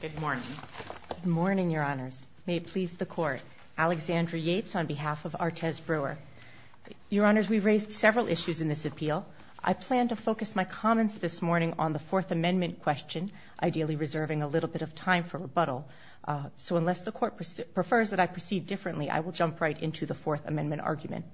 Good morning. Good morning, Your Honors. May it please the Court. Alexandra Yates on behalf of Artez Brewer. Your Honors, we raised several issues in this appeal. I plan to focus my comments this morning on the Fourth Amendment question, ideally reserving a little bit of time for rebuttal. So unless the Court prefers that I proceed differently, I will jump right into the Fourth Amendment argument.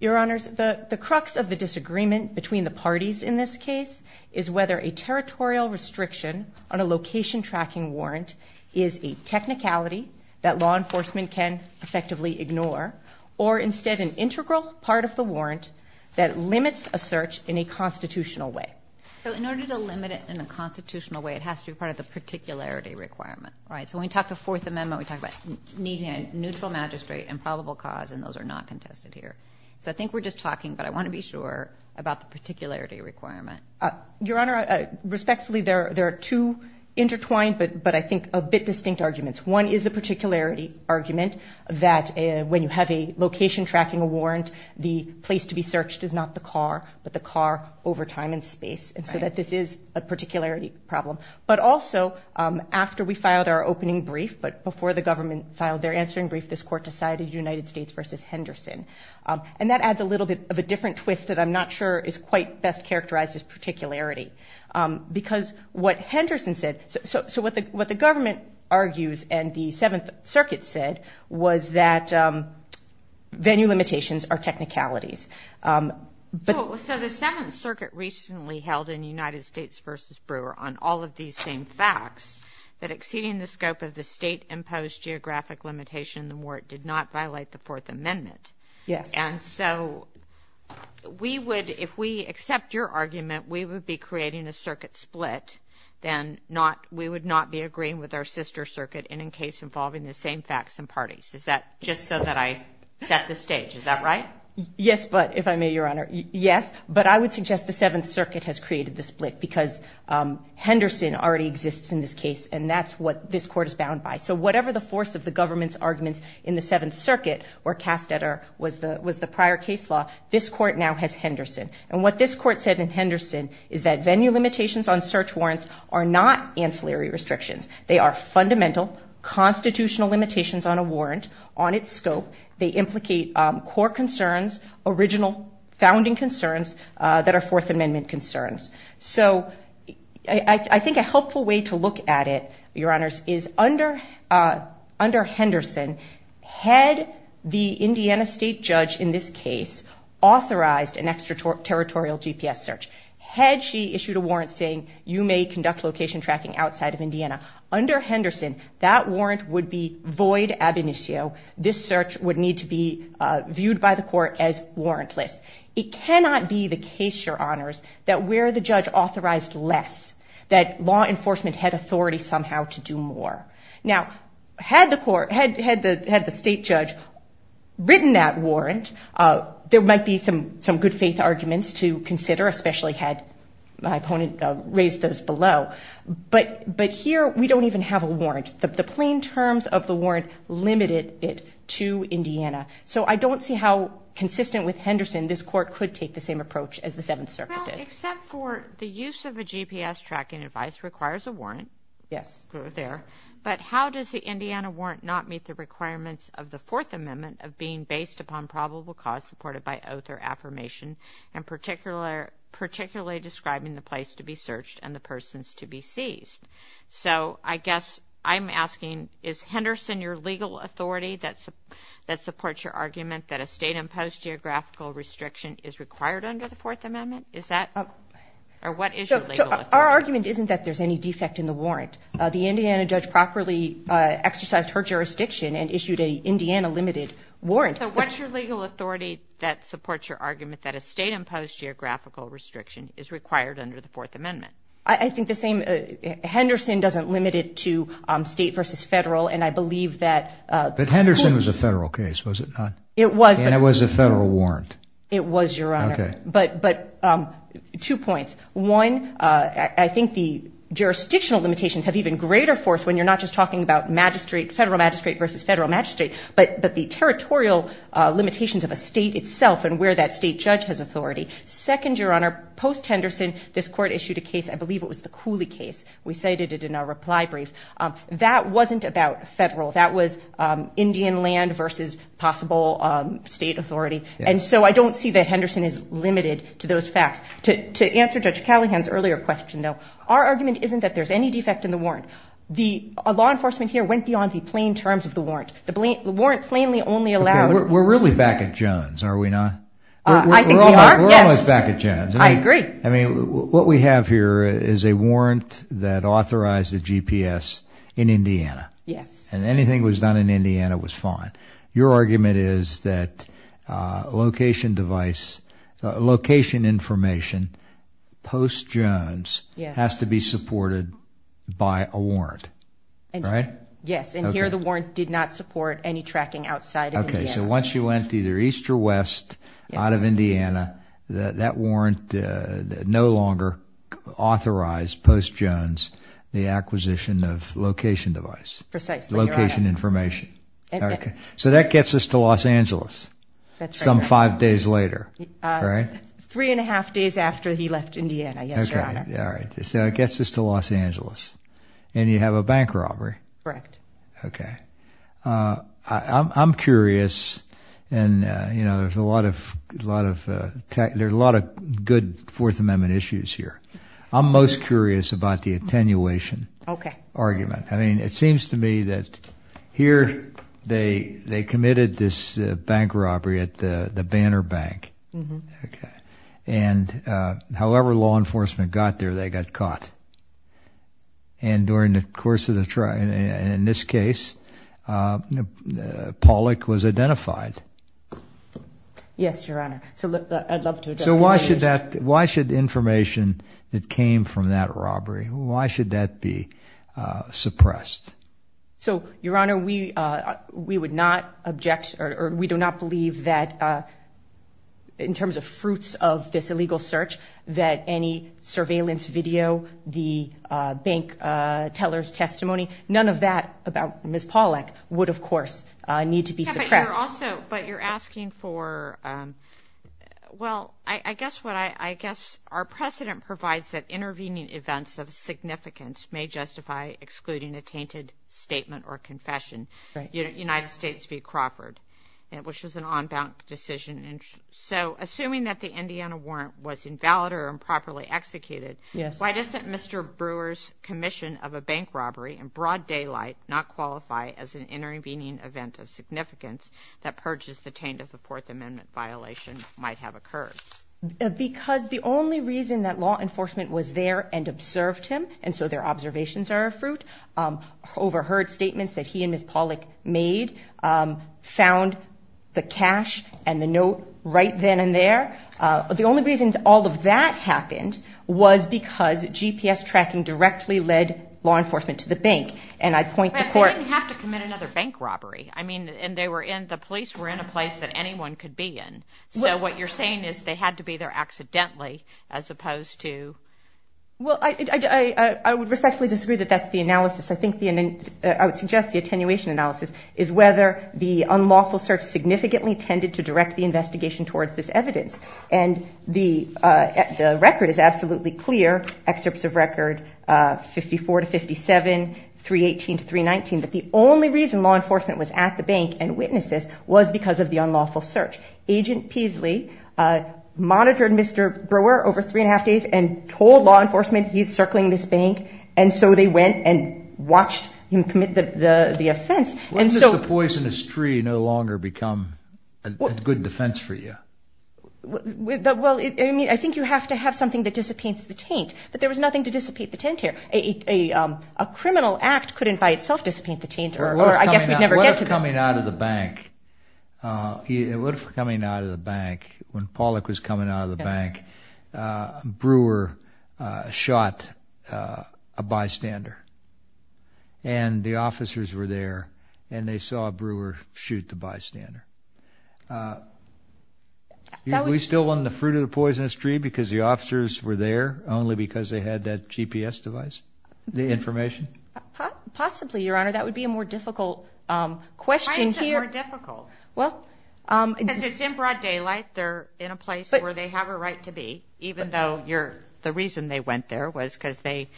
Your Honors, the crux of the disagreement between the parties in this case is whether a territorial restriction on a location tracking warrant is a technicality that law enforcement can effectively ignore, or instead an integral part of the warrant that limits a search in a constitutional way. So in order to limit it in a constitutional way, it has to be part of the particularity requirement, right? So when we talk the Fourth Amendment, we talk about needing a neutral magistrate and probable cause, and those are not contested here. So I think we're just Your Honor, respectfully, there are two intertwined, but I think a bit distinct arguments. One is the particularity argument that when you have a location tracking warrant, the place to be searched is not the car, but the car over time and space. And so that this is a particularity problem. But also, after we filed our opening brief, but before the government filed their answering brief, this Court decided United States versus Henderson. And that adds a little bit of a different twist that I'm not sure is quite best characterized as particularity. Because what Henderson said, so what the government argues, and the Seventh Circuit said, was that venue limitations are technicalities. So the Seventh Circuit recently held in United States versus Brewer on all of these same facts that exceeding the scope of the state-imposed geographic limitation in the warrant did not So, we would, if we accept your argument, we would be creating a circuit split, then we would not be agreeing with our sister circuit in a case involving the same facts and parties. Is that just so that I set the stage? Is that right? Yes, but, if I may, Your Honor, yes. But I would suggest the Seventh Circuit has created the split because Henderson already exists in this case, and that's what this Court is bound by. So whatever the force of the government's argument in the Seventh Circuit, where Castetter was the prior case law, this Court now has Henderson. And what this Court said in Henderson is that venue limitations on search warrants are not ancillary restrictions. They are fundamental constitutional limitations on a warrant, on its scope. They implicate core concerns, original founding concerns that are Fourth Amendment concerns. So I think a helpful way to look at it, Your Honors, is under Henderson, had the Indiana state judge in this case authorized an extraterritorial GPS search, had she issued a warrant saying you may conduct location tracking outside of Indiana, under Henderson, that warrant would be void ab initio. This search would need to be viewed by the Court as warrantless. It cannot be the case, Your Honors, that where the judge authorized less, that law enforcement had authority somehow to do more. Now, had the state judge written that warrant, there might be some good faith arguments to consider, especially had my opponent raised those below. But here, we don't even have a warrant. The plain terms of the warrant limited it to Indiana. So I don't see how consistent with Henderson this Court could take the same approach as the Seventh Circuit did. Except for the use of a GPS tracking device requires a warrant. Yes. There. But how does the Indiana warrant not meet the requirements of the Fourth Amendment of being based upon probable cause supported by oath or affirmation, and particularly describing the place to be searched and the persons to be seized? So I guess I'm asking, is Henderson your legal authority that supports your argument that a state-imposed geographical restriction is required under the Fourth Amendment? Is that, or what is your legal authority? Our argument isn't that there's any defect in the warrant. The Indiana judge properly exercised her jurisdiction and issued a Indiana limited warrant. So what's your legal authority that supports your argument that a state-imposed geographical restriction is required under the Fourth Amendment? I think the same, Henderson doesn't limit it to state versus federal, and I believe that- But Henderson was a federal case, was it not? It was, but- And it was a federal warrant. It was, Your Honor. Okay. But two points. One, I think the jurisdictional limitations have even greater force when you're not just talking about magistrate, federal magistrate versus federal magistrate, but the territorial limitations of a state itself and where that state judge has authority. Second, Your Honor, post-Henderson, this court issued a case, I believe it was the Cooley case. We cited it in our reply brief. That wasn't about federal. That was Indian land versus possible state authority. And so I don't see that Henderson is limited to those facts. To answer Judge Callahan's earlier question, though, our argument isn't that there's any defect in the warrant. The law enforcement here went beyond the plain terms of the warrant. The warrant plainly only allowed- We're really back at Jones, are we not? I think we are, yes. We're almost back at Jones. I agree. I mean, what we have here is a warrant that authorized a GPS in Indiana. Yes. And anything that was done in Indiana was fine. Your argument is that location device, location information post-Jones has to be supported by a warrant, right? Yes. And here the warrant did not support any tracking outside of Indiana. Okay. So once you went either east or west out of Indiana, that warrant no longer authorized post-Jones the acquisition of location device. Precisely, Your Honor. Location information. Okay. So that gets us to Los Angeles some five days later, right? Three and a half days after he left Indiana, yes, Your Honor. Okay. All right. So it gets us to Los Angeles. And you have a bank robbery. Correct. Okay. I'm curious, and there's a lot of good Fourth Amendment issues here. I'm most curious to me that here they committed this bank robbery at the Banner Bank, and however law enforcement got there, they got caught. And during the course of the trial, in this case, Pollack was identified. Yes, Your Honor. So I'd love to address that. Why should information that came from that robbery, why should that be suppressed? So Your Honor, we would not object or we do not believe that in terms of fruits of this illegal search that any surveillance video, the bank teller's testimony, none of that about Ms. Pollack would, of course, need to be suppressed. Yes, but you're also, but you're asking for, well, I guess what, I guess our precedent provides that intervening events of significance may justify excluding a tainted statement or confession. United States v. Crawford, which was an on-bound decision. So assuming that the Indiana warrant was invalid or improperly executed, why doesn't Mr. Brewer's commission of a bank robbery in broad daylight not qualify as an intervening event of significance that purges the taint of the Fourth Amendment violation might have occurred? Because the only reason that law enforcement was there and observed him, and so their observations are of fruit, overheard statements that he and Ms. Pollack made, found the cash and the note right then and there. The only reason all of that happened was because GPS tracking directly led law enforcement to the bank. And I point the court... But they didn't have to commit another bank robbery. I mean, and they were in, the police were in a place that anyone could be in. So what you're saying is they had to be there accidentally as opposed to... Well, I would respectfully disagree that that's the analysis. I think the, I would suggest the attenuation analysis is whether the unlawful search significantly tended to direct the 54 to 57, 318 to 319. But the only reason law enforcement was at the bank and witnessed this was because of the unlawful search. Agent Peasley monitored Mr. Brewer over three and a half days and told law enforcement he's circling this bank. And so they went and watched him commit the offense. Why does the poisonous tree no longer become a good defense for you? Well, I mean, I think you have to have something that dissipates the taint, but there was nothing to dissipate the taint here. A criminal act couldn't by itself dissipate the taint, or I guess we'd never get to that. What if coming out of the bank, what if coming out of the bank, when Pollack was coming out of the bank, Brewer shot a bystander? And the officers were there, and they saw Brewer shoot the bystander. We still want the fruit of the poisonous tree because the officers were there only because they had that GPS device, the information? Possibly, Your Honor. That would be a more difficult question here. Why is it more difficult? Well... Because it's in broad daylight. They're in a place where they have a right to be, even though the reason they went there was because they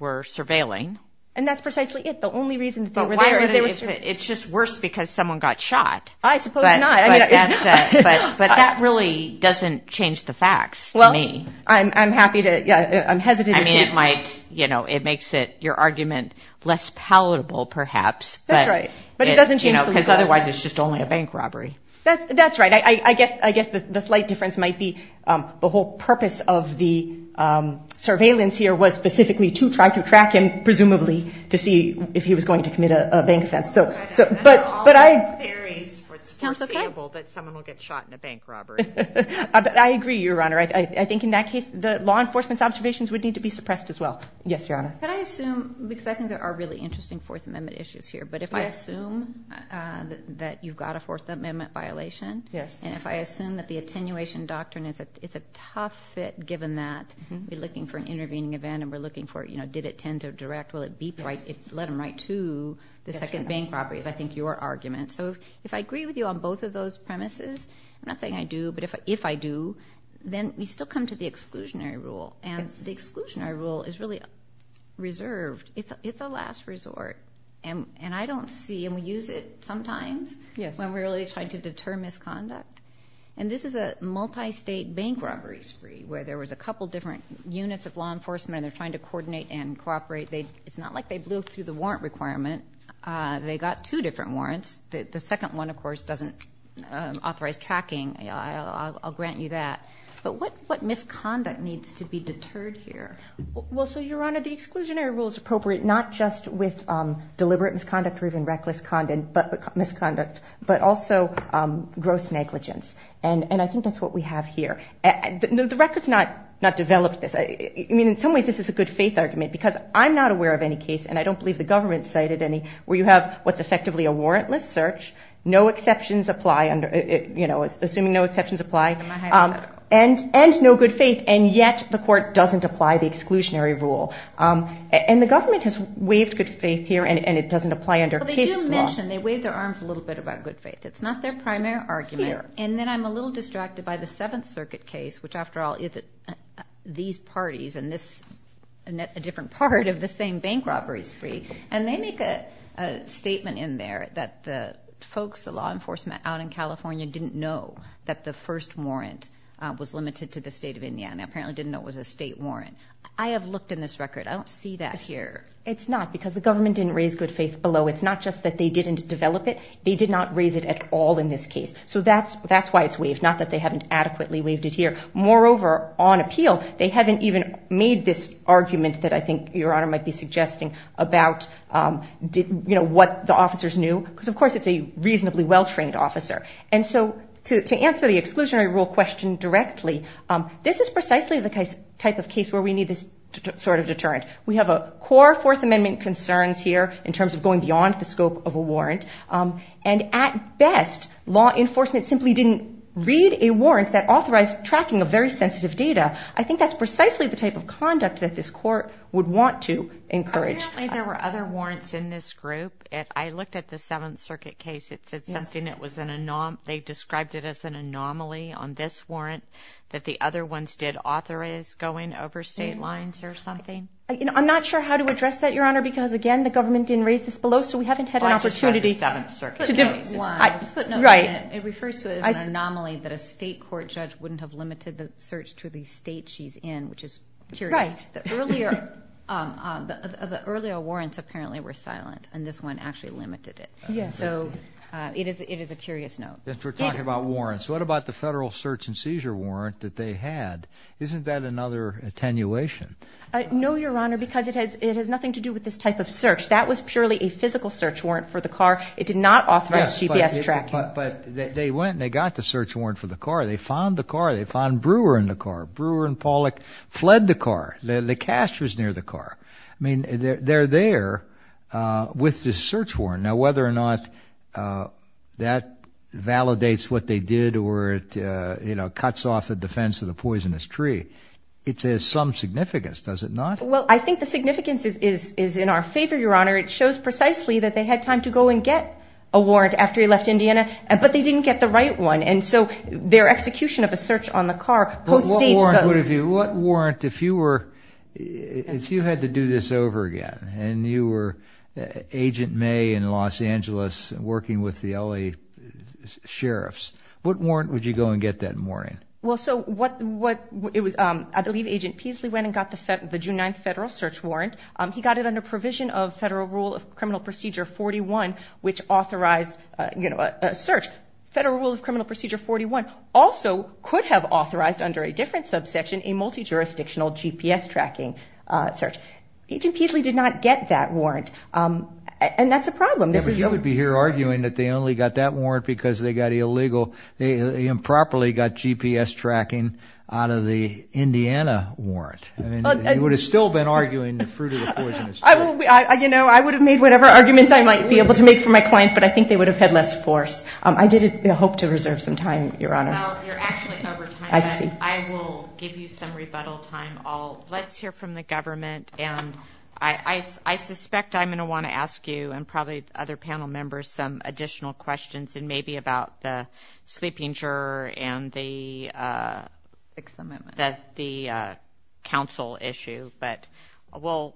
were surveilling. And that's precisely it. The only reason that they were there was they were surveilling. It's just worse because someone got shot. I suppose not. But that really doesn't change the facts, to me. Well, I'm happy to... I'm hesitant to... I mean, it makes your argument less palatable, perhaps. That's right. But it doesn't change the facts. Because otherwise, it's just only a bank robbery. That's right. I guess the slight difference might be the whole purpose of the surveillance here was specifically to try to track him, presumably, to see if he was going to commit a bank offense. I know all the theories. It's foreseeable that someone will get shot in a bank robbery. I agree, Your Honor. I think in that case, the law enforcement's observations would need to be suppressed as well. Yes, Your Honor. Could I assume, because I think there are really interesting Fourth Amendment issues here, but if I assume that you've got a Fourth Amendment violation, and if I assume that the attenuation doctrine is a tough fit, given that we're looking for an intervening event and we're looking for, you know, did it tend to direct, let him write to the second bank robbery, is I think your argument. So if I agree with you on both of those premises, I'm not saying I do, but if I do, then we still come to the exclusionary rule. And the exclusionary rule is really reserved. It's a last resort. And I don't see, and we use it sometimes when we're really trying to deter misconduct. And this is a multi-state bank robbery spree, where there was a couple different units of law enforcement, and they're trying to coordinate and cooperate. It's not like they blew through the warrant requirement. They got two different warrants. The second one, of course, doesn't authorize tracking. I'll grant you that. But what misconduct needs to be deterred here? Well, so, Your Honor, the exclusionary rule is appropriate not just with deliberate misconduct or even reckless misconduct, but also gross negligence. And I think that's what we have here. The record's not developed this. I mean, in some ways, this is a good faith argument, because I'm not aware of any case, and I don't believe the government's cited any, where you have what's effectively a warrantless search, no exceptions apply, you know, assuming no exceptions apply, and no good faith, and yet the court doesn't apply the exclusionary rule. And the government has waived good faith here, and it doesn't apply under case law. Well, they do mention, they wave their arms a little bit about good faith. It's not their primary argument. And then I'm a little distracted by the Seventh Circuit case, which, after all, it's these parties and this, a different part of the same bank robbery spree. And they make a statement in there that the folks, the law enforcement out in California didn't know that the first warrant was limited to the state of Indiana. Apparently didn't know it was a state warrant. I have looked in this record. I don't see that here. It's not, because the government didn't raise good faith below. It's not just that they didn't develop it. They did not raise it at all in this case. So that's why it's waived, not that they haven't adequately waived it here. Moreover, on appeal, they haven't even made this argument that I think Your Honor might be suggesting about, you know, what the officers knew, because, of course, it's a reasonably well-trained officer. And so to answer the exclusionary rule question directly, this is precisely the type of case where we need this sort of deterrent. We have a core Fourth Amendment concerns here in terms of going beyond the scope of a warrant. And at best, law enforcement simply didn't read a warrant that authorized tracking of very sensitive data. I think that's precisely the type of conduct that this court would want to encourage. Apparently there were other warrants in this group. I looked at the Seventh Circuit case. It's something that was an anomaly. They described it as an anomaly on this warrant, that the other ones did authorize going over state lines or something. I'm not sure how to address that, Your Honor, because, again, the government didn't raise this below, so we haven't had an opportunity to do this. Let's put note in it. It refers to it as an anomaly that a state court judge wouldn't have limited the search to the state she's in, which is curious. The earlier warrants apparently were silent, and this one actually limited it. So it is a curious note. If we're talking about warrants, what about the federal search and seizure warrant that they had? Isn't that another attenuation? No, Your Honor, because it has nothing to do with this type of search. That was purely a physical search warrant for the car. It did not authorize GPS tracking. But they went and they got the search warrant for the car. They found the car. They found Brewer in the car. Brewer and Pollack fled the car. The cash was near the car. I mean, they're there with the search warrant. Now, whether or not that validates what they did or it cuts off the defense of the poisonous tree, it has some significance, does it not? Well, I think the significance is in our favor, Your Honor. It shows precisely that they had time to go and get a warrant after he left Indiana, but they didn't get the right one. And so their execution of a search on the car postdates the… But what warrant would have you – what warrant if you were – if you had to do this over again and you were Agent May in Los Angeles working with the L.A. sheriffs, what warrant would you go and get that morning? Well, so what – it was – I believe Agent Peasley went and got the June 9th federal search warrant. He got it under provision of Federal Rule of Criminal Procedure 41, which authorized a search. Federal Rule of Criminal Procedure 41 also could have authorized under a different subsection a multi-jurisdictional GPS tracking search. Agent Peasley did not get that warrant, and that's a problem. Yeah, but you would be here arguing that they only got that warrant because they got illegal – they improperly got GPS tracking out of the Indiana warrant. I mean, you would have still been arguing the fruit of the poisonous tree. You know, I would have made whatever arguments I might be able to make for my client, but I think they would have had less force. I did hope to reserve some time, Your Honors. Well, you're actually over time. I see. I will give you some rebuttal time. Let's hear from the government, and I suspect I'm going to want to ask you and probably other panel members some additional questions, and maybe about the sleeping juror and the council issue. But we'll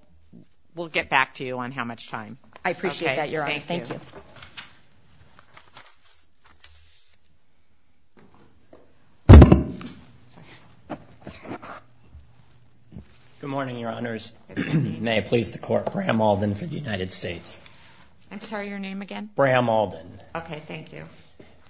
get back to you on how much time. I appreciate that, Your Honor. Thank you. Thank you. Good morning, Your Honors. May it please the Court, Bram Alden for the United States. I'm sorry, your name again? Bram Alden. Okay, thank you.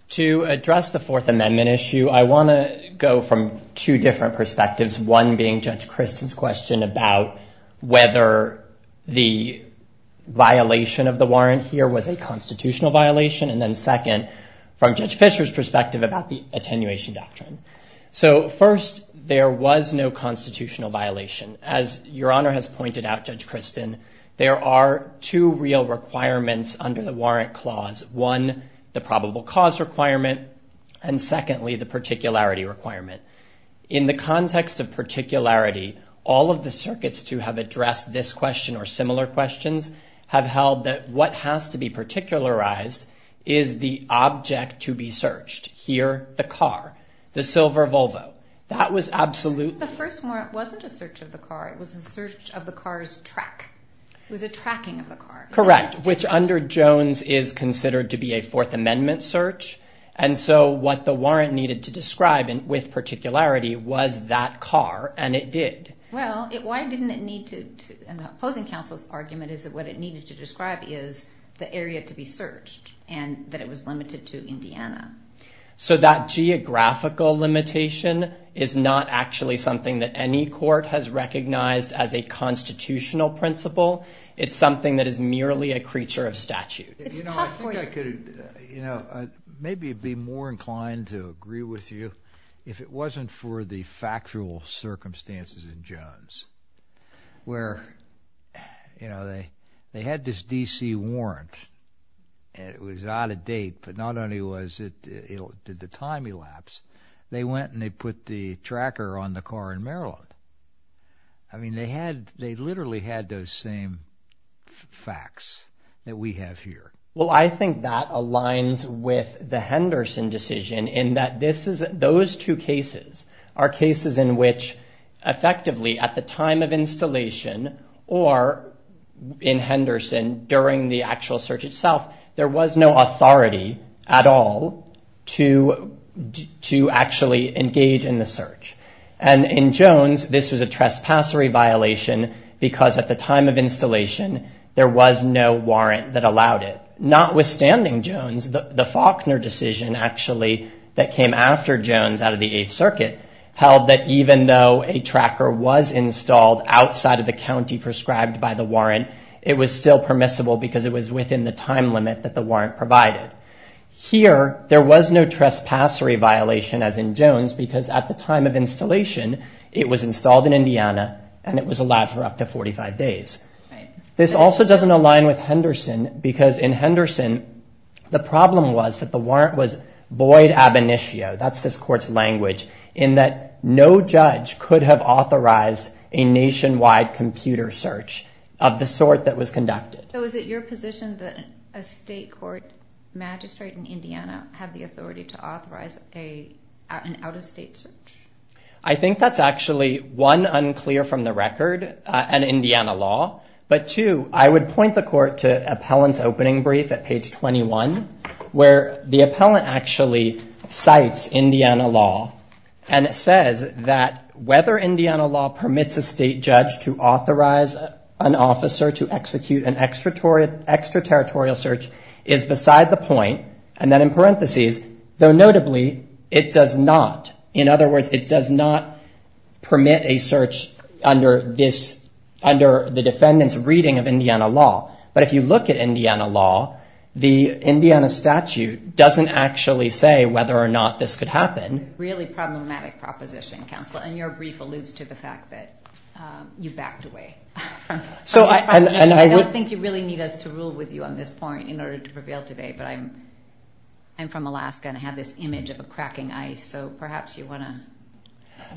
To address the Fourth Amendment issue, I want to go from two different perspectives, one being Judge Kristen's question about whether the violation of the warrant here was a constitutional violation, and then second, from Judge Fisher's perspective, about the attenuation doctrine. So, first, there was no constitutional violation. As Your Honor has pointed out, Judge Kristen, there are two real requirements under the warrant clause. One, the probable cause requirement, and secondly, the particularity requirement. In the context of particularity, all of the circuits to have addressed this question or similar questions have held that what has to be particularized is the object to be searched. Here, the car, the silver Volvo. The first warrant wasn't a search of the car. It was a search of the car's track. It was a tracking of the car. Correct, which under Jones is considered to be a Fourth Amendment search, and so what the warrant needed to describe with particularity was that car, and it did. Well, why didn't it need to? Opposing counsel's argument is that what it needed to describe is the area to be searched, and that it was limited to Indiana. So that geographical limitation is not actually something that any court has recognized as a constitutional principle. It's something that is merely a creature of statute. You know, I think I could maybe be more inclined to agree with you if it wasn't for the factual circumstances in Jones where they had this D.C. warrant, and it was out of date, but not only did the time elapse, they went and they put the tracker on the car in Maryland. I mean, they literally had those same facts that we have here. Well, I think that aligns with the Henderson decision in that those two cases are cases in which effectively at the time of installation or in Henderson during the actual search itself, there was no authority at all to actually engage in the search. And in Jones, this was a trespassery violation because at the time of installation, there was no warrant that allowed it. Notwithstanding Jones, the Faulkner decision actually that came after Jones out of the Eighth Circuit held that even though a tracker was installed outside of the county prescribed by the warrant, it was still permissible because it was within the time limit that the warrant provided. Here, there was no trespassery violation as in Jones because at the time of installation, it was installed in Indiana and it was allowed for up to 45 days. This also doesn't align with Henderson because in Henderson, the problem was that the warrant was void ab initio, that's this court's language, in that no judge could have authorized a nationwide computer search of the sort that was conducted. So is it your position that a state court magistrate in Indiana had the authority to authorize an out-of-state search? I think that's actually, one, unclear from the record, an Indiana law, but two, I would point the court to appellant's opening brief at page 21 where the appellant actually cites Indiana law and it says that whether Indiana law permits a state judge to authorize an officer to execute an extraterritorial search is beside the point, and then in parentheses, though notably, it does not. In other words, it does not permit a search under the defendant's reading of Indiana law. But if you look at Indiana law, the Indiana statute doesn't actually say whether or not this could happen. Really problematic proposition, Counselor, and your brief alludes to the fact that you backed away from this proposition. I don't think you really need us to rule with you on this point in order to prevail today, but I'm from Alaska and I have this image of a cracking ice, so perhaps you want to.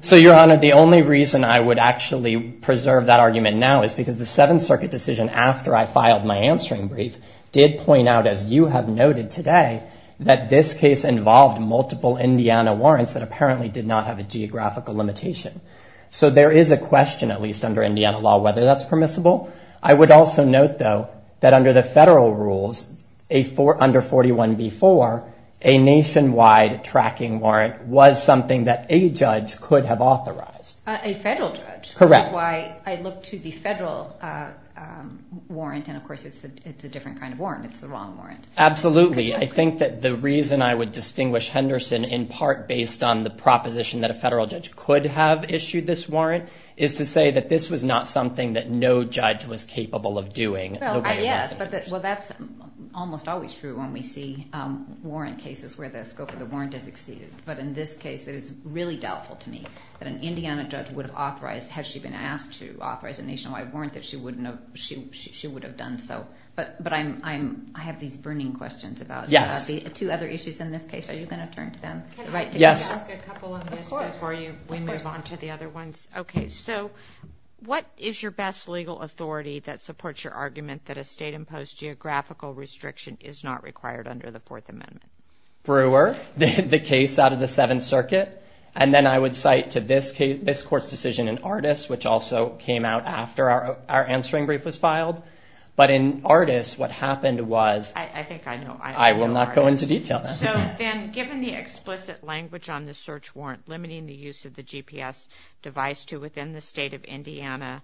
So, Your Honor, the only reason I would actually preserve that argument now is because the Seventh Circuit decision after I filed my answering brief did point out, as you have noted today, that this case involved multiple Indiana warrants that apparently did not have a geographical limitation. So there is a question, at least under Indiana law, whether that's permissible. I would also note, though, that under the federal rules, under 41b-4, a nationwide tracking warrant was something that a judge could have authorized. A federal judge. Correct. Which is why I look to the federal warrant, and, of course, it's a different kind of warrant. It's the wrong warrant. Absolutely. I think that the reason I would distinguish Henderson in part based on the proposition that a federal judge could have issued this warrant is to say that this was not something that no judge was capable of doing. Well, yes, but that's almost always true when we see warrant cases where the scope of the warrant has exceeded. But in this case, it is really doubtful to me that an Indiana judge would have authorized, had she been asked to authorize a nationwide warrant, that she would have done so. But I have these burning questions about the two other issues in this case. Are you going to turn to them? Yes. Can I ask a couple of them before we move on to the other ones? Okay. So what is your best legal authority that supports your argument that a state-imposed geographical restriction is not required under the Fourth Amendment? Brewer. Brewer. The case out of the Seventh Circuit. And then I would cite to this court's decision in Artis, which also came out after our answering brief was filed. But in Artis, what happened was... I think I know. I will not go into detail. So then, given the explicit language on the search warrant limiting the use of the GPS device to within the state of Indiana,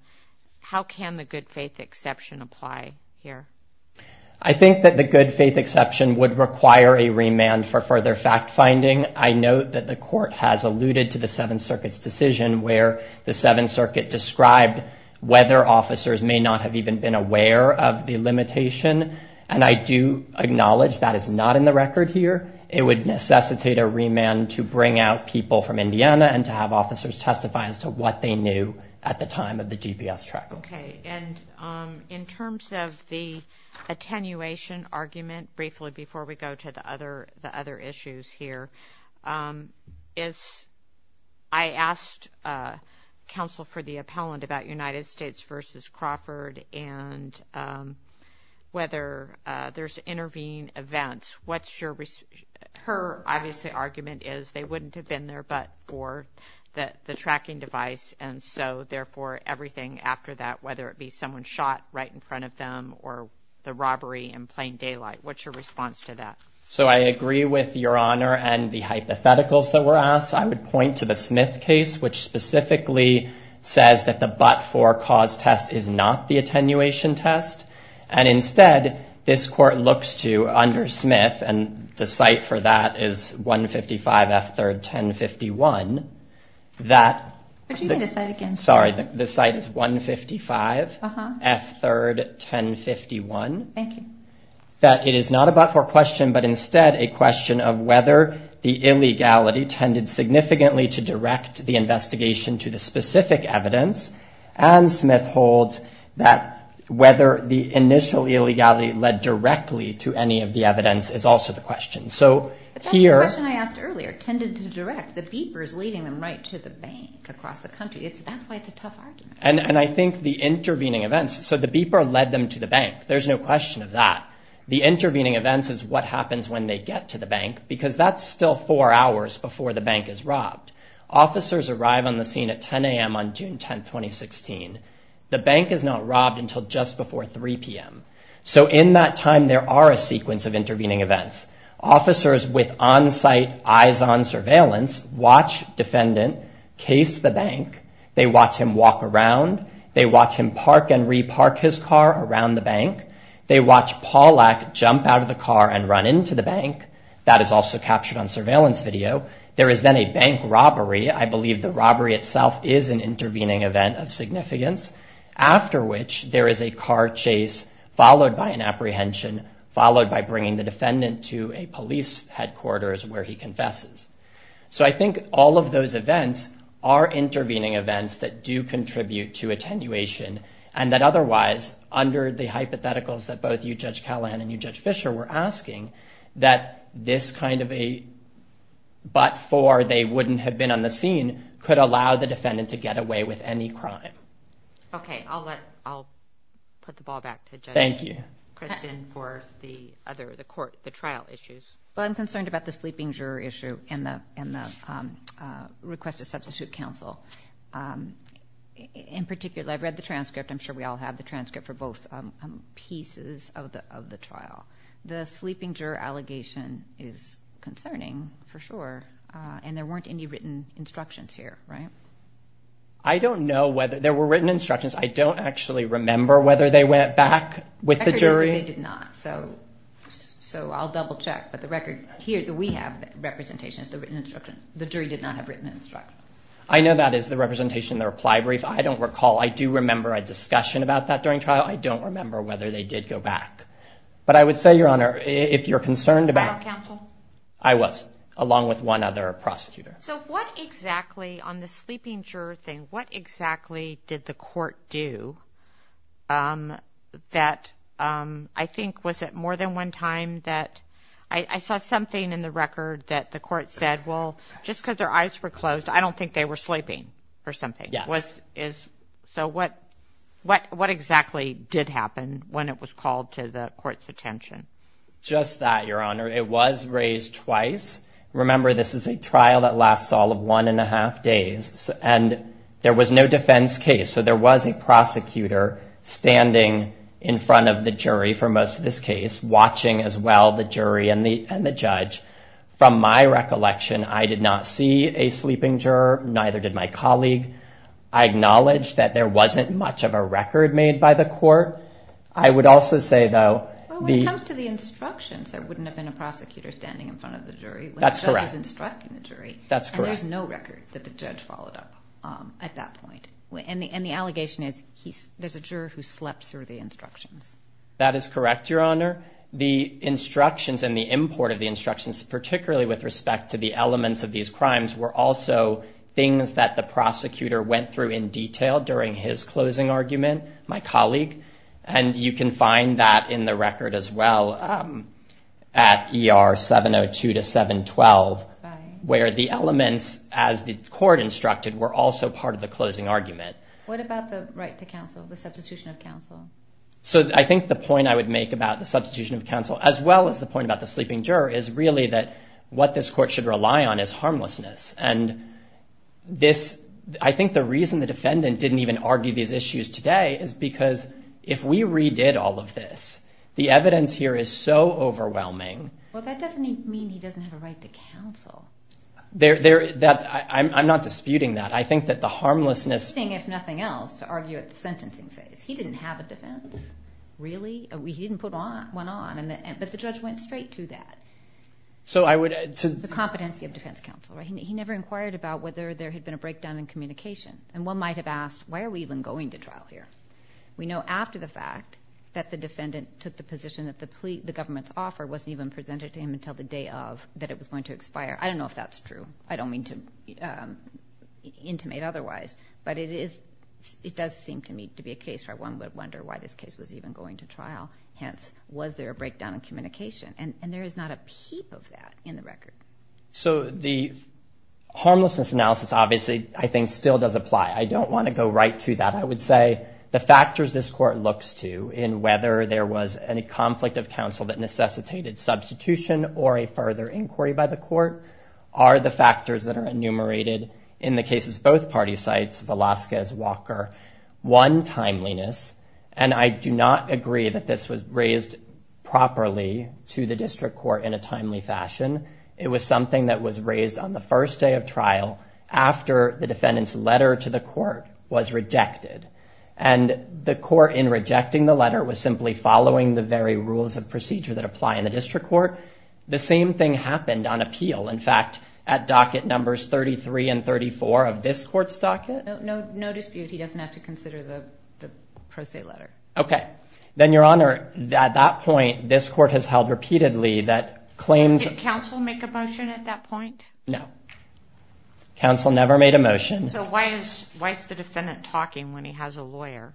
how can the good faith exception apply here? I think that the good faith exception would require a remand for further fact finding. I note that the court has alluded to the Seventh Circuit's decision where the Seventh Circuit described whether officers may not have even been aware of the limitation. And I do acknowledge that is not in the record here. It would necessitate a remand to bring out people from Indiana and to have officers testify as to what they knew at the time of the GPS track. Okay. And in terms of the attenuation argument, briefly, before we go to the other issues here, I asked counsel for the appellant about United States versus Crawford and whether there's intervening events. What's your... Her, obviously, argument is they wouldn't have been there but for the tracking device. And so, therefore, everything after that, whether it be someone shot right in front of them or the robbery in plain daylight, what's your response to that? So, I agree with Your Honor and the hypotheticals that were asked. I would point to the Smith case, which specifically says that the but-for cause test is not the attenuation test. And instead, this court looks to, under Smith, and the site for that is 155 F3rd 1051, that... Could you say the site again? Sorry. The site is 155 F3rd 1051. Thank you. That it is not a but-for question but, instead, a question of whether the illegality tended significantly to direct the investigation to the specific evidence. And Smith holds that whether the initial illegality led directly to any of the evidence is also the question. So, here... But that's the question I asked earlier, tended to direct. The beeper is leading them right to the bank across the country. That's why it's a tough argument. And I think the intervening events... So, the beeper led them to the bank. There's no question of that. The intervening events is what happens when they get to the bank because that's still four hours before the bank is robbed. Officers arrive on the scene at 10 a.m. on June 10, 2016. The bank is not robbed until just before 3 p.m. So, in that time, there are a sequence of intervening events. Officers with on-site, eyes-on surveillance watch defendant case the bank. They watch him walk around. They watch him park and re-park his car around the bank. They watch Pawlak jump out of the car and run into the bank. That is also captured on surveillance video. There is then a bank robbery. I believe the robbery itself is an intervening event of significance. After which, there is a car chase followed by an apprehension, followed by bringing the defendant to a police headquarters where he confesses. So, I think all of those events are intervening events that do contribute to attenuation, and that otherwise, under the hypotheticals that both you, Judge Callahan, and you, Judge Fisher, were asking, that this kind of a but-for, they wouldn't have been on the scene, could allow the defendant to get away with any crime. Okay. I'll let... I'll put the ball back to Judge... Thank you. ...Kristen for the other, the court, the trial issues. Well, I'm concerned about the sleeping juror issue and the request to substitute counsel. In particular, I've read the transcript. I'm sure we all have the transcript for both pieces of the trial. The sleeping juror allegation is concerning, for sure, and there weren't any written instructions here, right? I don't know whether... There were written instructions. I don't actually remember whether they went back with the jury. The record is that they did not. So, I'll double-check, but the record here that we have, the representation is the written instruction. The jury did not have written instructions. I know that is the representation in the reply brief. I don't recall. I do remember a discussion about that during trial. I don't remember whether they did go back. But I would say, Your Honor, if you're concerned about... Was there trial counsel? I was, along with one other prosecutor. So, what exactly, on the sleeping juror thing, what exactly did the court do that, I think, was it more than one time that... I saw something in the record that the court said, well, just because their eyes were closed, I don't think they were sleeping or something. Yes. So, what exactly did happen when it was called to the court's attention? Just that, Your Honor. It was raised twice. Remember, this is a trial that lasts all of one and a half days. And there was no defense case, so there was a prosecutor standing in front of the jury for most of this case, watching as well the jury and the judge. From my recollection, I did not see a sleeping juror, neither did my colleague. I acknowledge that there wasn't much of a record made by the court. I would also say, though... Well, when it comes to the instructions, there wouldn't have been a prosecutor standing in front of the jury when the judge is instructing the jury. That's correct. And there's no record that the judge followed up at that point. And the allegation is there's a juror who slept through the instructions. That is correct, Your Honor. The instructions and the import of the instructions, particularly with respect to the elements of these crimes, were also things that the prosecutor went through in detail during his closing argument, my colleague. And you can find that in the record as well at ER 702-712, where the elements, as the court instructed, were also part of the closing argument. What about the right to counsel, the substitution of counsel? So I think the point I would make about the substitution of counsel, as well as the point about the sleeping juror, is really that what this court should rely on is harmlessness. And I think the reason the defendant didn't even argue these issues today is because if we redid all of this, the evidence here is so overwhelming. Well, that doesn't mean he doesn't have a right to counsel. I'm not disputing that. I think that the harmlessness— It's interesting, if nothing else, to argue at the sentencing phase. He didn't have a defense. Really? He didn't put one on. But the judge went straight to that. The competency of defense counsel. He never inquired about whether there had been a breakdown in communication. And one might have asked, why are we even going to trial here? We know after the fact that the defendant took the position that the government's offer wasn't even presented to him until the day that it was going to expire. I don't know if that's true. I don't mean to intimate otherwise. But it does seem to me to be a case where one would wonder why this case was even going to trial. Hence, was there a breakdown in communication? And there is not a peep of that in the record. So the harmlessness analysis, obviously, I think still does apply. I don't want to go right to that. I would say the factors this court looks to in whether there was any conflict of counsel that necessitated substitution or a further inquiry by the court are the factors that are enumerated in the cases both parties cite, Velazquez, Walker. One, timeliness. And I do not agree that this was raised properly to the district court in a timely fashion. It was something that was raised on the first day of trial after the defendant's letter to the court was rejected. And the court in rejecting the letter was simply following the very rules of procedure that apply in the district court. The same thing happened on appeal. In fact, at docket numbers 33 and 34 of this court's docket. No dispute. He doesn't have to consider the pro se letter. Okay. Then, Your Honor, at that point, this court has held repeatedly that claims Did counsel make a motion at that point? No. Counsel never made a motion. So why is the defendant talking when he has a lawyer?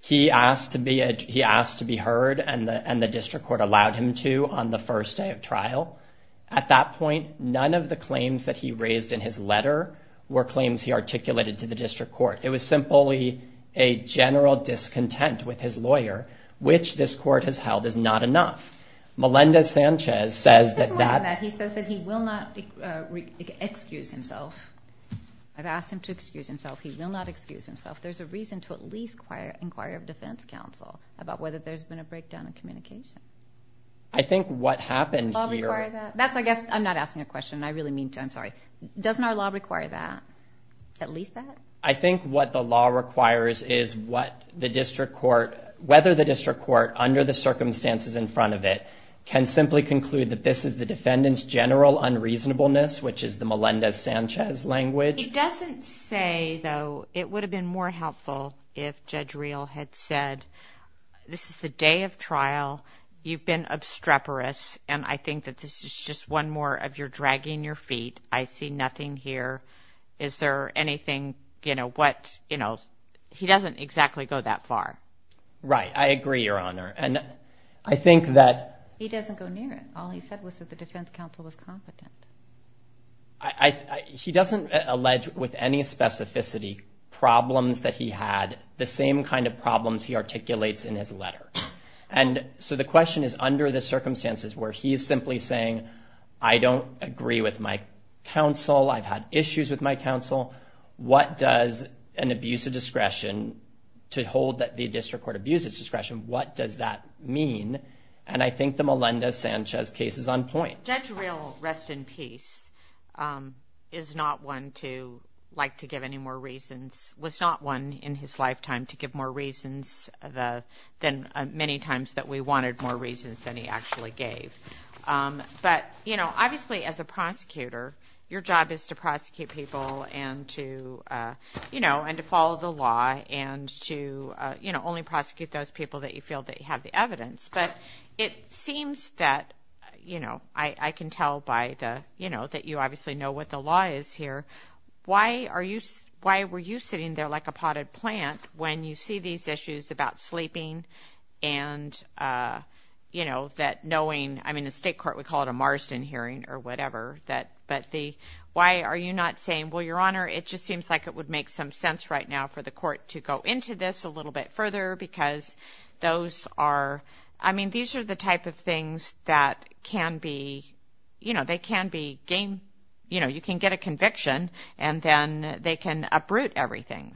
He asked to be heard and the district court allowed him to on the first day of trial. At that point, none of the claims that he raised in his letter were claims he articulated to the district court. It was simply a general discontent with his lawyer, which this court has held is not enough. Melinda Sanchez says that that He says that he will not excuse himself. I've asked him to excuse himself. He will not excuse himself. There's a reason to at least inquire of defense counsel about whether there's been a breakdown in communication. I think what happened here Does the law require that? I'm not asking a question. I really mean to. I'm sorry. Doesn't our law require that? At least that? I think what the law requires is what the district court whether the district court under the circumstances in front of it can simply conclude that this is the defendant's general unreasonableness, which is the Melinda Sanchez language. It doesn't say, though, it would have been more helpful if Judge Real had said, this is the day of trial. You've been obstreperous. And I think that this is just one more of you're dragging your feet. I see nothing here. Is there anything, you know, what, you know, He doesn't exactly go that far. Right. I agree, Your Honor. And I think that. He doesn't go near it. All he said was that the defense counsel was competent. He doesn't allege with any specificity problems that he had, the same kind of problems he articulates in his letter. And so the question is under the circumstances where he is simply saying, I don't agree with my counsel. I've had issues with my counsel. What does an abuse of discretion to hold that the district court abuses discretion, what does that mean? And I think the Melinda Sanchez case is on point. Judge Real, rest in peace, is not one to like to give any more reasons, was not one in his lifetime to give more reasons than many times that we wanted more reasons than he actually gave. But, you know, obviously as a prosecutor, your job is to prosecute people and to, you know, and to follow the law and to, you know, only prosecute those people that you feel that you have the evidence. But it seems that, you know, I can tell by the, you know, that you obviously know what the law is here. Why are you, why were you sitting there like a potted plant when you see these issues about sleeping and, you know, that knowing, I mean, the state court would call it a Marsden hearing or whatever, that, but the, why are you not saying, well, your honor, it just seems like it would make some sense right now for the court to go into this a little bit further because those are, I mean, these are the type of things that can be, you know, they can be game, you know, you can get a conviction and then they can uproot everything.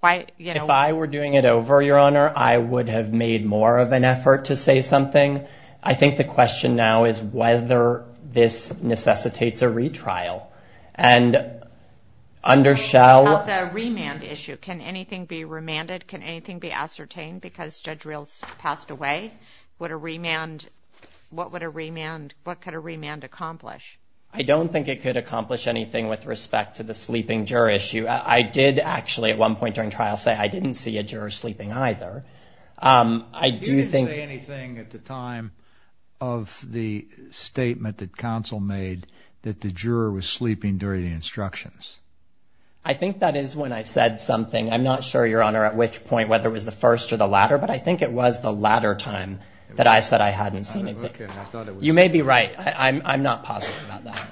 If I were doing it over your honor, I would have made more of an effort to say something. I think the question now is whether this necessitates a retrial and under shall remand issue. Can anything be remanded? Can anything be ascertained because judge reels passed away? What a remand, what would a remand, what could a remand accomplish? I don't think it could accomplish anything with respect to the sleeping juror issue. I did actually at one point during trial say, I didn't see a juror sleeping either. I do think I didn't say anything at the time of the statement that council made that the juror was sleeping during the instructions. I think that is when I said something, I'm not sure your honor, at which point, whether it was the first or the latter, but I think it was the latter time that I said I hadn't seen anything. You may be right. I'm not positive about that.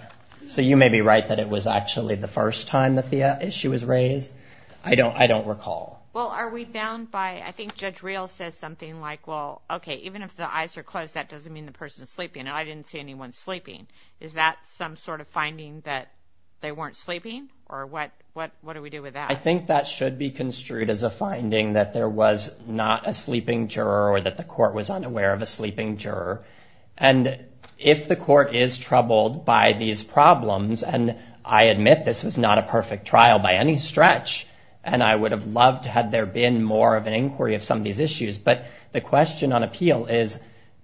So you may be right that it was actually the first time that the issue was raised. I don't, I don't recall. Well, are we bound by, I think judge real says something like, well, okay, even if the eyes are closed, that doesn't mean the person is sleeping. And I didn't see anyone sleeping. Is that some sort of finding that they weren't sleeping or what, what, what do we do with that? I think that should be construed as a finding that there was not a sleeping juror or that the court was unaware of a sleeping juror. And if the court is troubled by these problems, and I admit this was not a perfect trial by any stretch, and I would have loved had there been more of an inquiry of some of these issues, but the question on appeal is,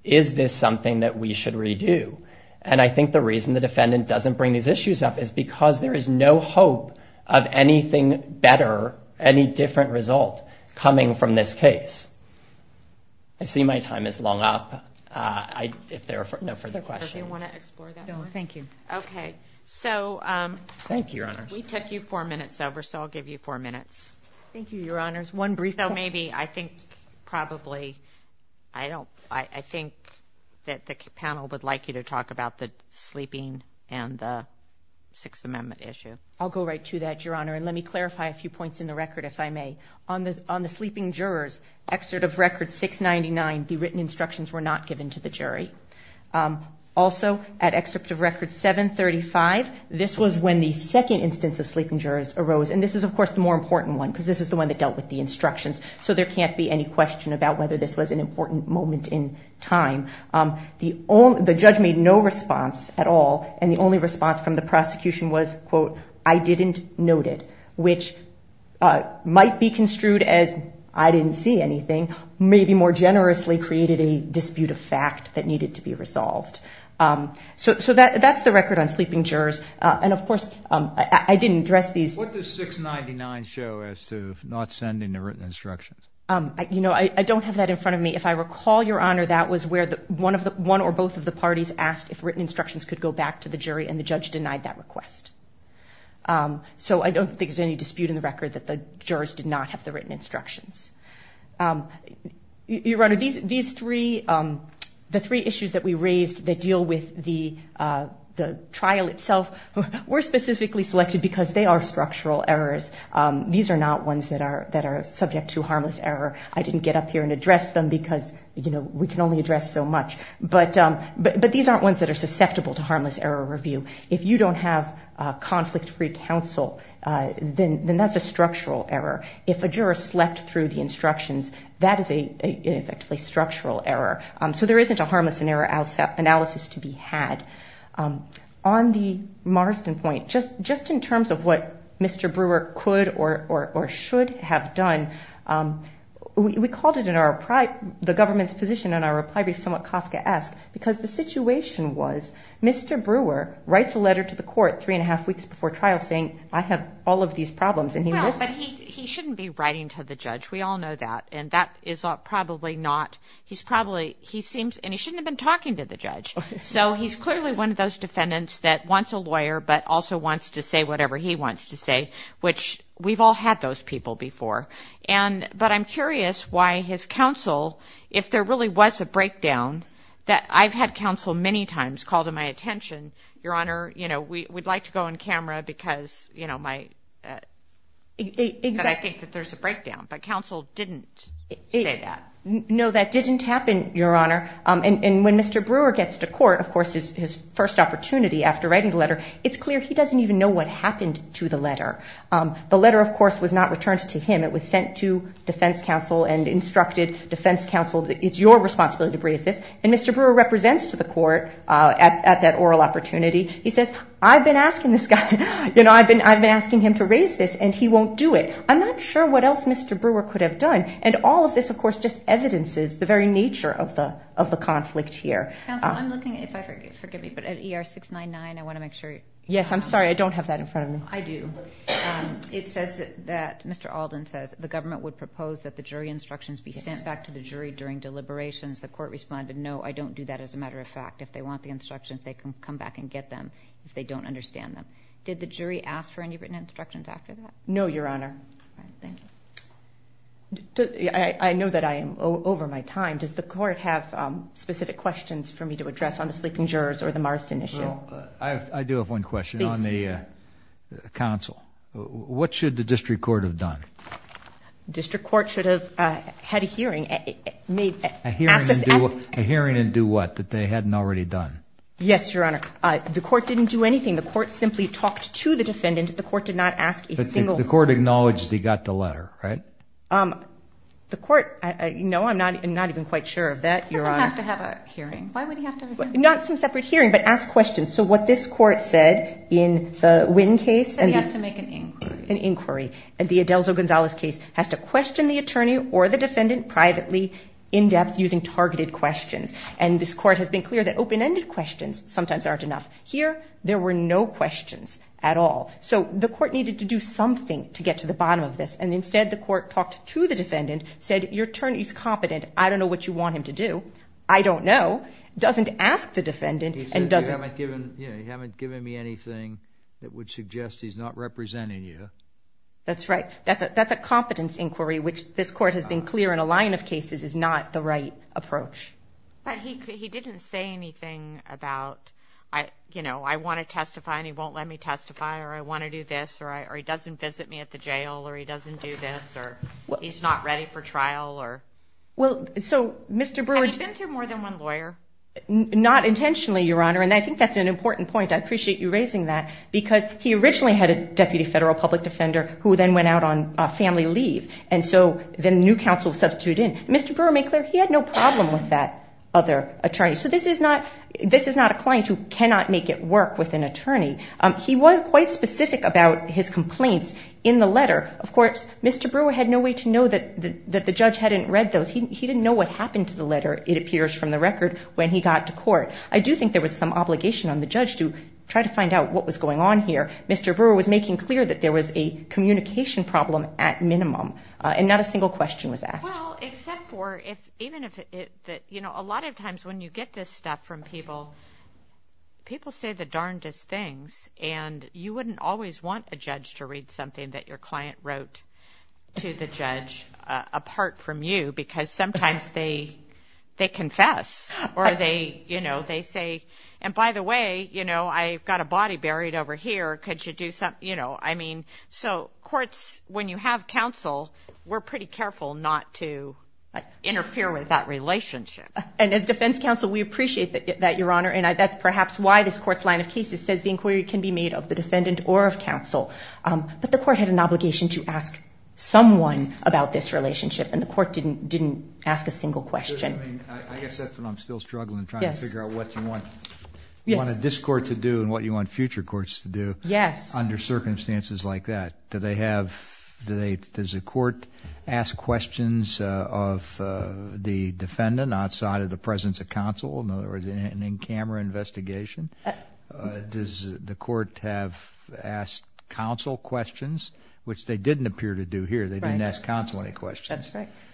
is this something that we should redo? And I think the reason the defendant doesn't bring these issues up is because there is no hope of anything better, any different result coming from this case. I see my time is long up. I, if there are no further questions. Thank you. Okay. So, um, thank you. We took you four minutes over, so I'll give you four minutes. Thank you, your honors. One brief though, maybe I think probably I don't, I think that the panel would like you to talk about the sleeping and the sixth amendment issue. I'll go right to that, your honor. And let me clarify a few points in the record, if I may, on the, on the sleeping jurors excerpt of record six 99, the written instructions were not given to the jury. Um, also at excerpt of record seven 35, this was when the second instance of sleeping jurors arose. And this is of course the more important one, because this is the one that dealt with the instructions. So there can't be any question about whether this was an important moment in time. Um, the only, the judge made no response at all. And the only response from the prosecution was quote, I didn't note it, which, uh, might be construed as, I didn't see anything, maybe more generously created a dispute of fact that needed to be resolved. Um, so, so that, that's the record on sleeping jurors. Uh, and of course, um, I didn't address these six 99 show as to not sending the written instructions. Um, you know, I don't have that in front of me. If I recall your honor, that was where the one of the one or both of the parties asked if written instructions could go back to the jury and the judge denied that request. Um, so I don't think there's any dispute in the record that the jurors did not have the written instructions. Um, you run these, these three, um, the three issues that we raised that deal with the, uh, the trial itself were specifically selected because they are structural errors. Um, these are not ones that are, that are subject to harmless error. I didn't get up here and address them because you know, we can only address so much, but, um, but, but these aren't ones that are susceptible to harmless error review. If you don't have a conflict free counsel, uh, then that's a structural error. If a juror slept through the instructions, that is a effectively structural error. Um, so there isn't a harmless and error outset analysis to be had. Um, on the Marsden point, just, just in terms of what Mr. Brewer could or should have done. Um, we called it in our pride, the government's position on our reply brief somewhat Kafka ask because the situation was Mr. Brewer writes a letter to the court three and a half weeks before trial saying I have all of these problems. He shouldn't be writing to the judge. We all know that. And that is probably not he's probably, he seems, and he shouldn't have been talking to the judge. So he's clearly one of those defendants that wants a lawyer, but also wants to say whatever he wants to say, which we've all had those people before. And, but I'm curious why his counsel, if there really was a breakdown that I've had counsel many times called to my attention, your honor, you know, we, we'd like to go on camera because you know, my, uh, I think that there's a breakdown, but counsel didn't say that. No, that didn't happen. Your honor. Um, and, and when Mr. Brewer gets to court, of course is his first opportunity after writing the letter, it's clear. He doesn't even know what happened to the letter. Um, the letter of course was not returned to him. It was sent to defense counsel and instructed defense counsel. It's your responsibility to raise this. And Mr. Brewer represents to the court, uh, at, at that oral opportunity, he says, I've been asking this guy, you know, I've been, I've been asking him to raise this and he won't do it. I'm not sure what else Mr. Brewer could have done. And all of this, of course, just evidences the very nature of the, of the conflict here. I'm looking at, if I forget, forgive me, but at ER 699, I want to make sure. Yes. I'm sorry. I don't have that in front of me. I do. Um, it says that Mr. Alden says the government would propose that the jury instructions be sent back to the jury during deliberations. The court responded. No, I don't do that. As a matter of fact, if they want the instructions, they can come back and get them if they don't understand them. Did the jury ask for any written instructions after that? No, Your Honor. I know that I am over my time. Does the court have specific questions for me to address on the sleeping jurors or the Marsden issue? I do have one question on the, uh, council. What should the district court have done? District court should have had a hearing. A hearing and do what? That they hadn't already done. Yes, Your Honor. Uh, the court didn't do anything. The court simply talked to the defendant. The court did not ask a single, the court acknowledged he got the letter, right? Um, the court, uh, you know, I'm not, I'm not even quite sure of that. You're going to have to have a hearing. Why would he have to not some separate hearing, but ask questions. So what this court said in the wind case, and he has to make an inquiry, an inquiry, and the Adelzo Gonzalez case has to question the attorney or the defendant privately in depth using targeted questions. And this court has been clear that open-ended questions sometimes aren't enough here. There were no questions at all. So the court needed to do something to get to the bottom of this. And instead the court talked to the defendant said, your attorney's competent. I don't know what you want him to do. I don't know. Doesn't ask the defendant and doesn't, you know, you haven't given me anything that would suggest he's not representing you. That's right. That's a, that's a competence inquiry, which this court has been clear in a line of cases is not the right approach. But he, he didn't say anything about, I, you know, I want to testify and he won't let me testify or I want to do this or I, or he doesn't visit me at the jail or he doesn't do this or he's not ready for trial or. Well, so Mr. Brewer. He's been to more than one lawyer. Not intentionally, Your Honor. And I think that's an important point. I appreciate you raising that because he originally had a deputy federal public defender who then went out on a family leave. And so then new counsel substitute in Mr. Brewer made clear he had no problem with that other attorney. So this is not, this is not a client who cannot make it work with an attorney. He was quite specific about his complaints in the letter. Of course, Mr. Brewer had no way to know that the, that the judge hadn't read those. He didn't know what happened to the letter. It appears from the record when he got to court. I do think there was some obligation on the judge to try to find out what was going on here. Mr. Brewer was making clear that there was a communication problem at minimum and not a single question was asked. Well, except for if, even if it, that, you know, a lot of times when you get this stuff from people, people say the darndest things and you wouldn't always want a judge to read something that your client wrote to the judge apart from you, because sometimes they, they confess or they, you know, they say, and by the way, you know, I've got a body buried over here. Could you do some, you know, I mean, so courts, when you have counsel, we're pretty careful not to interfere with that relationship. And as defense counsel, we appreciate that, that your honor. And I, that's perhaps why this court's line of cases says the inquiry can be made of the defendant or of counsel. But the court had an obligation to ask someone about this relationship and the court didn't, didn't ask a single question. I guess that's what I'm still struggling and trying to figure out what you want to discord to do and what you want future courts to do under circumstances like that. Do they have, do they, does the court ask questions of the defendant outside of the presence of counsel? In other words, in camera investigation, does the court have asked counsel questions, which they didn't appear to do here. They didn't ask counsel any questions.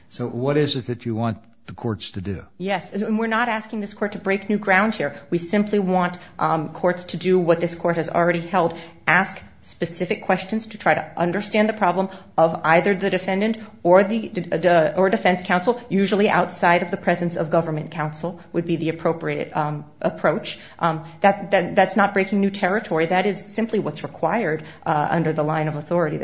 So what is it that you want the courts to do? Yes. And we're not asking this court to break new ground here. We simply want courts to do what this court has already held. Ask specific questions to try to understand the problem of either the defendant or the, or defense counsel, usually outside of the presence of government counsel would be the appropriate approach. That, that, that's not breaking new territory. That is simply what's required under the line of authority.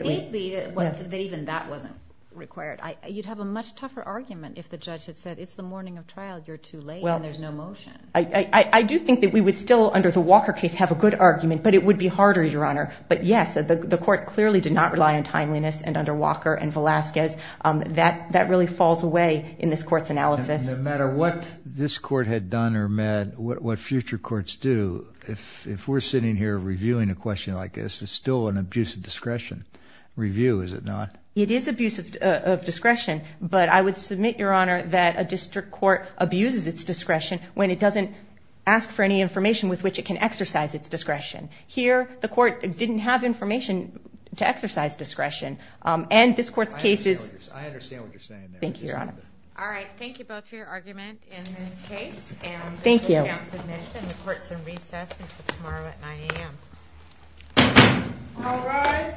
Even that wasn't required. You'd have a much tougher argument if the judge had said it's the morning of trial, you're too late and there's no motion. I do think that we would still under the Walker case have a good argument, but it would be harder, Your Honor. But yes, the court clearly did not rely on timeliness and under Walker and Velasquez that that really falls away in this court's analysis. No matter what this court had done or met, what, what future courts do. If, if we're sitting here reviewing a question like this, it's still an abuse of discretion review, is it not? It is abusive of discretion, but I would submit Your Honor that a district court abuses its discretion when it doesn't ask for any information with which it can exercise its discretion. Here, the court didn't have information to exercise discretion. And this court's case is, I understand what you're saying. Thank you, Your Honor. All right. Thank you both for your argument in this case. Thank you. The court's in recess until tomorrow at 9 a.m. All rise. The court is adjourned.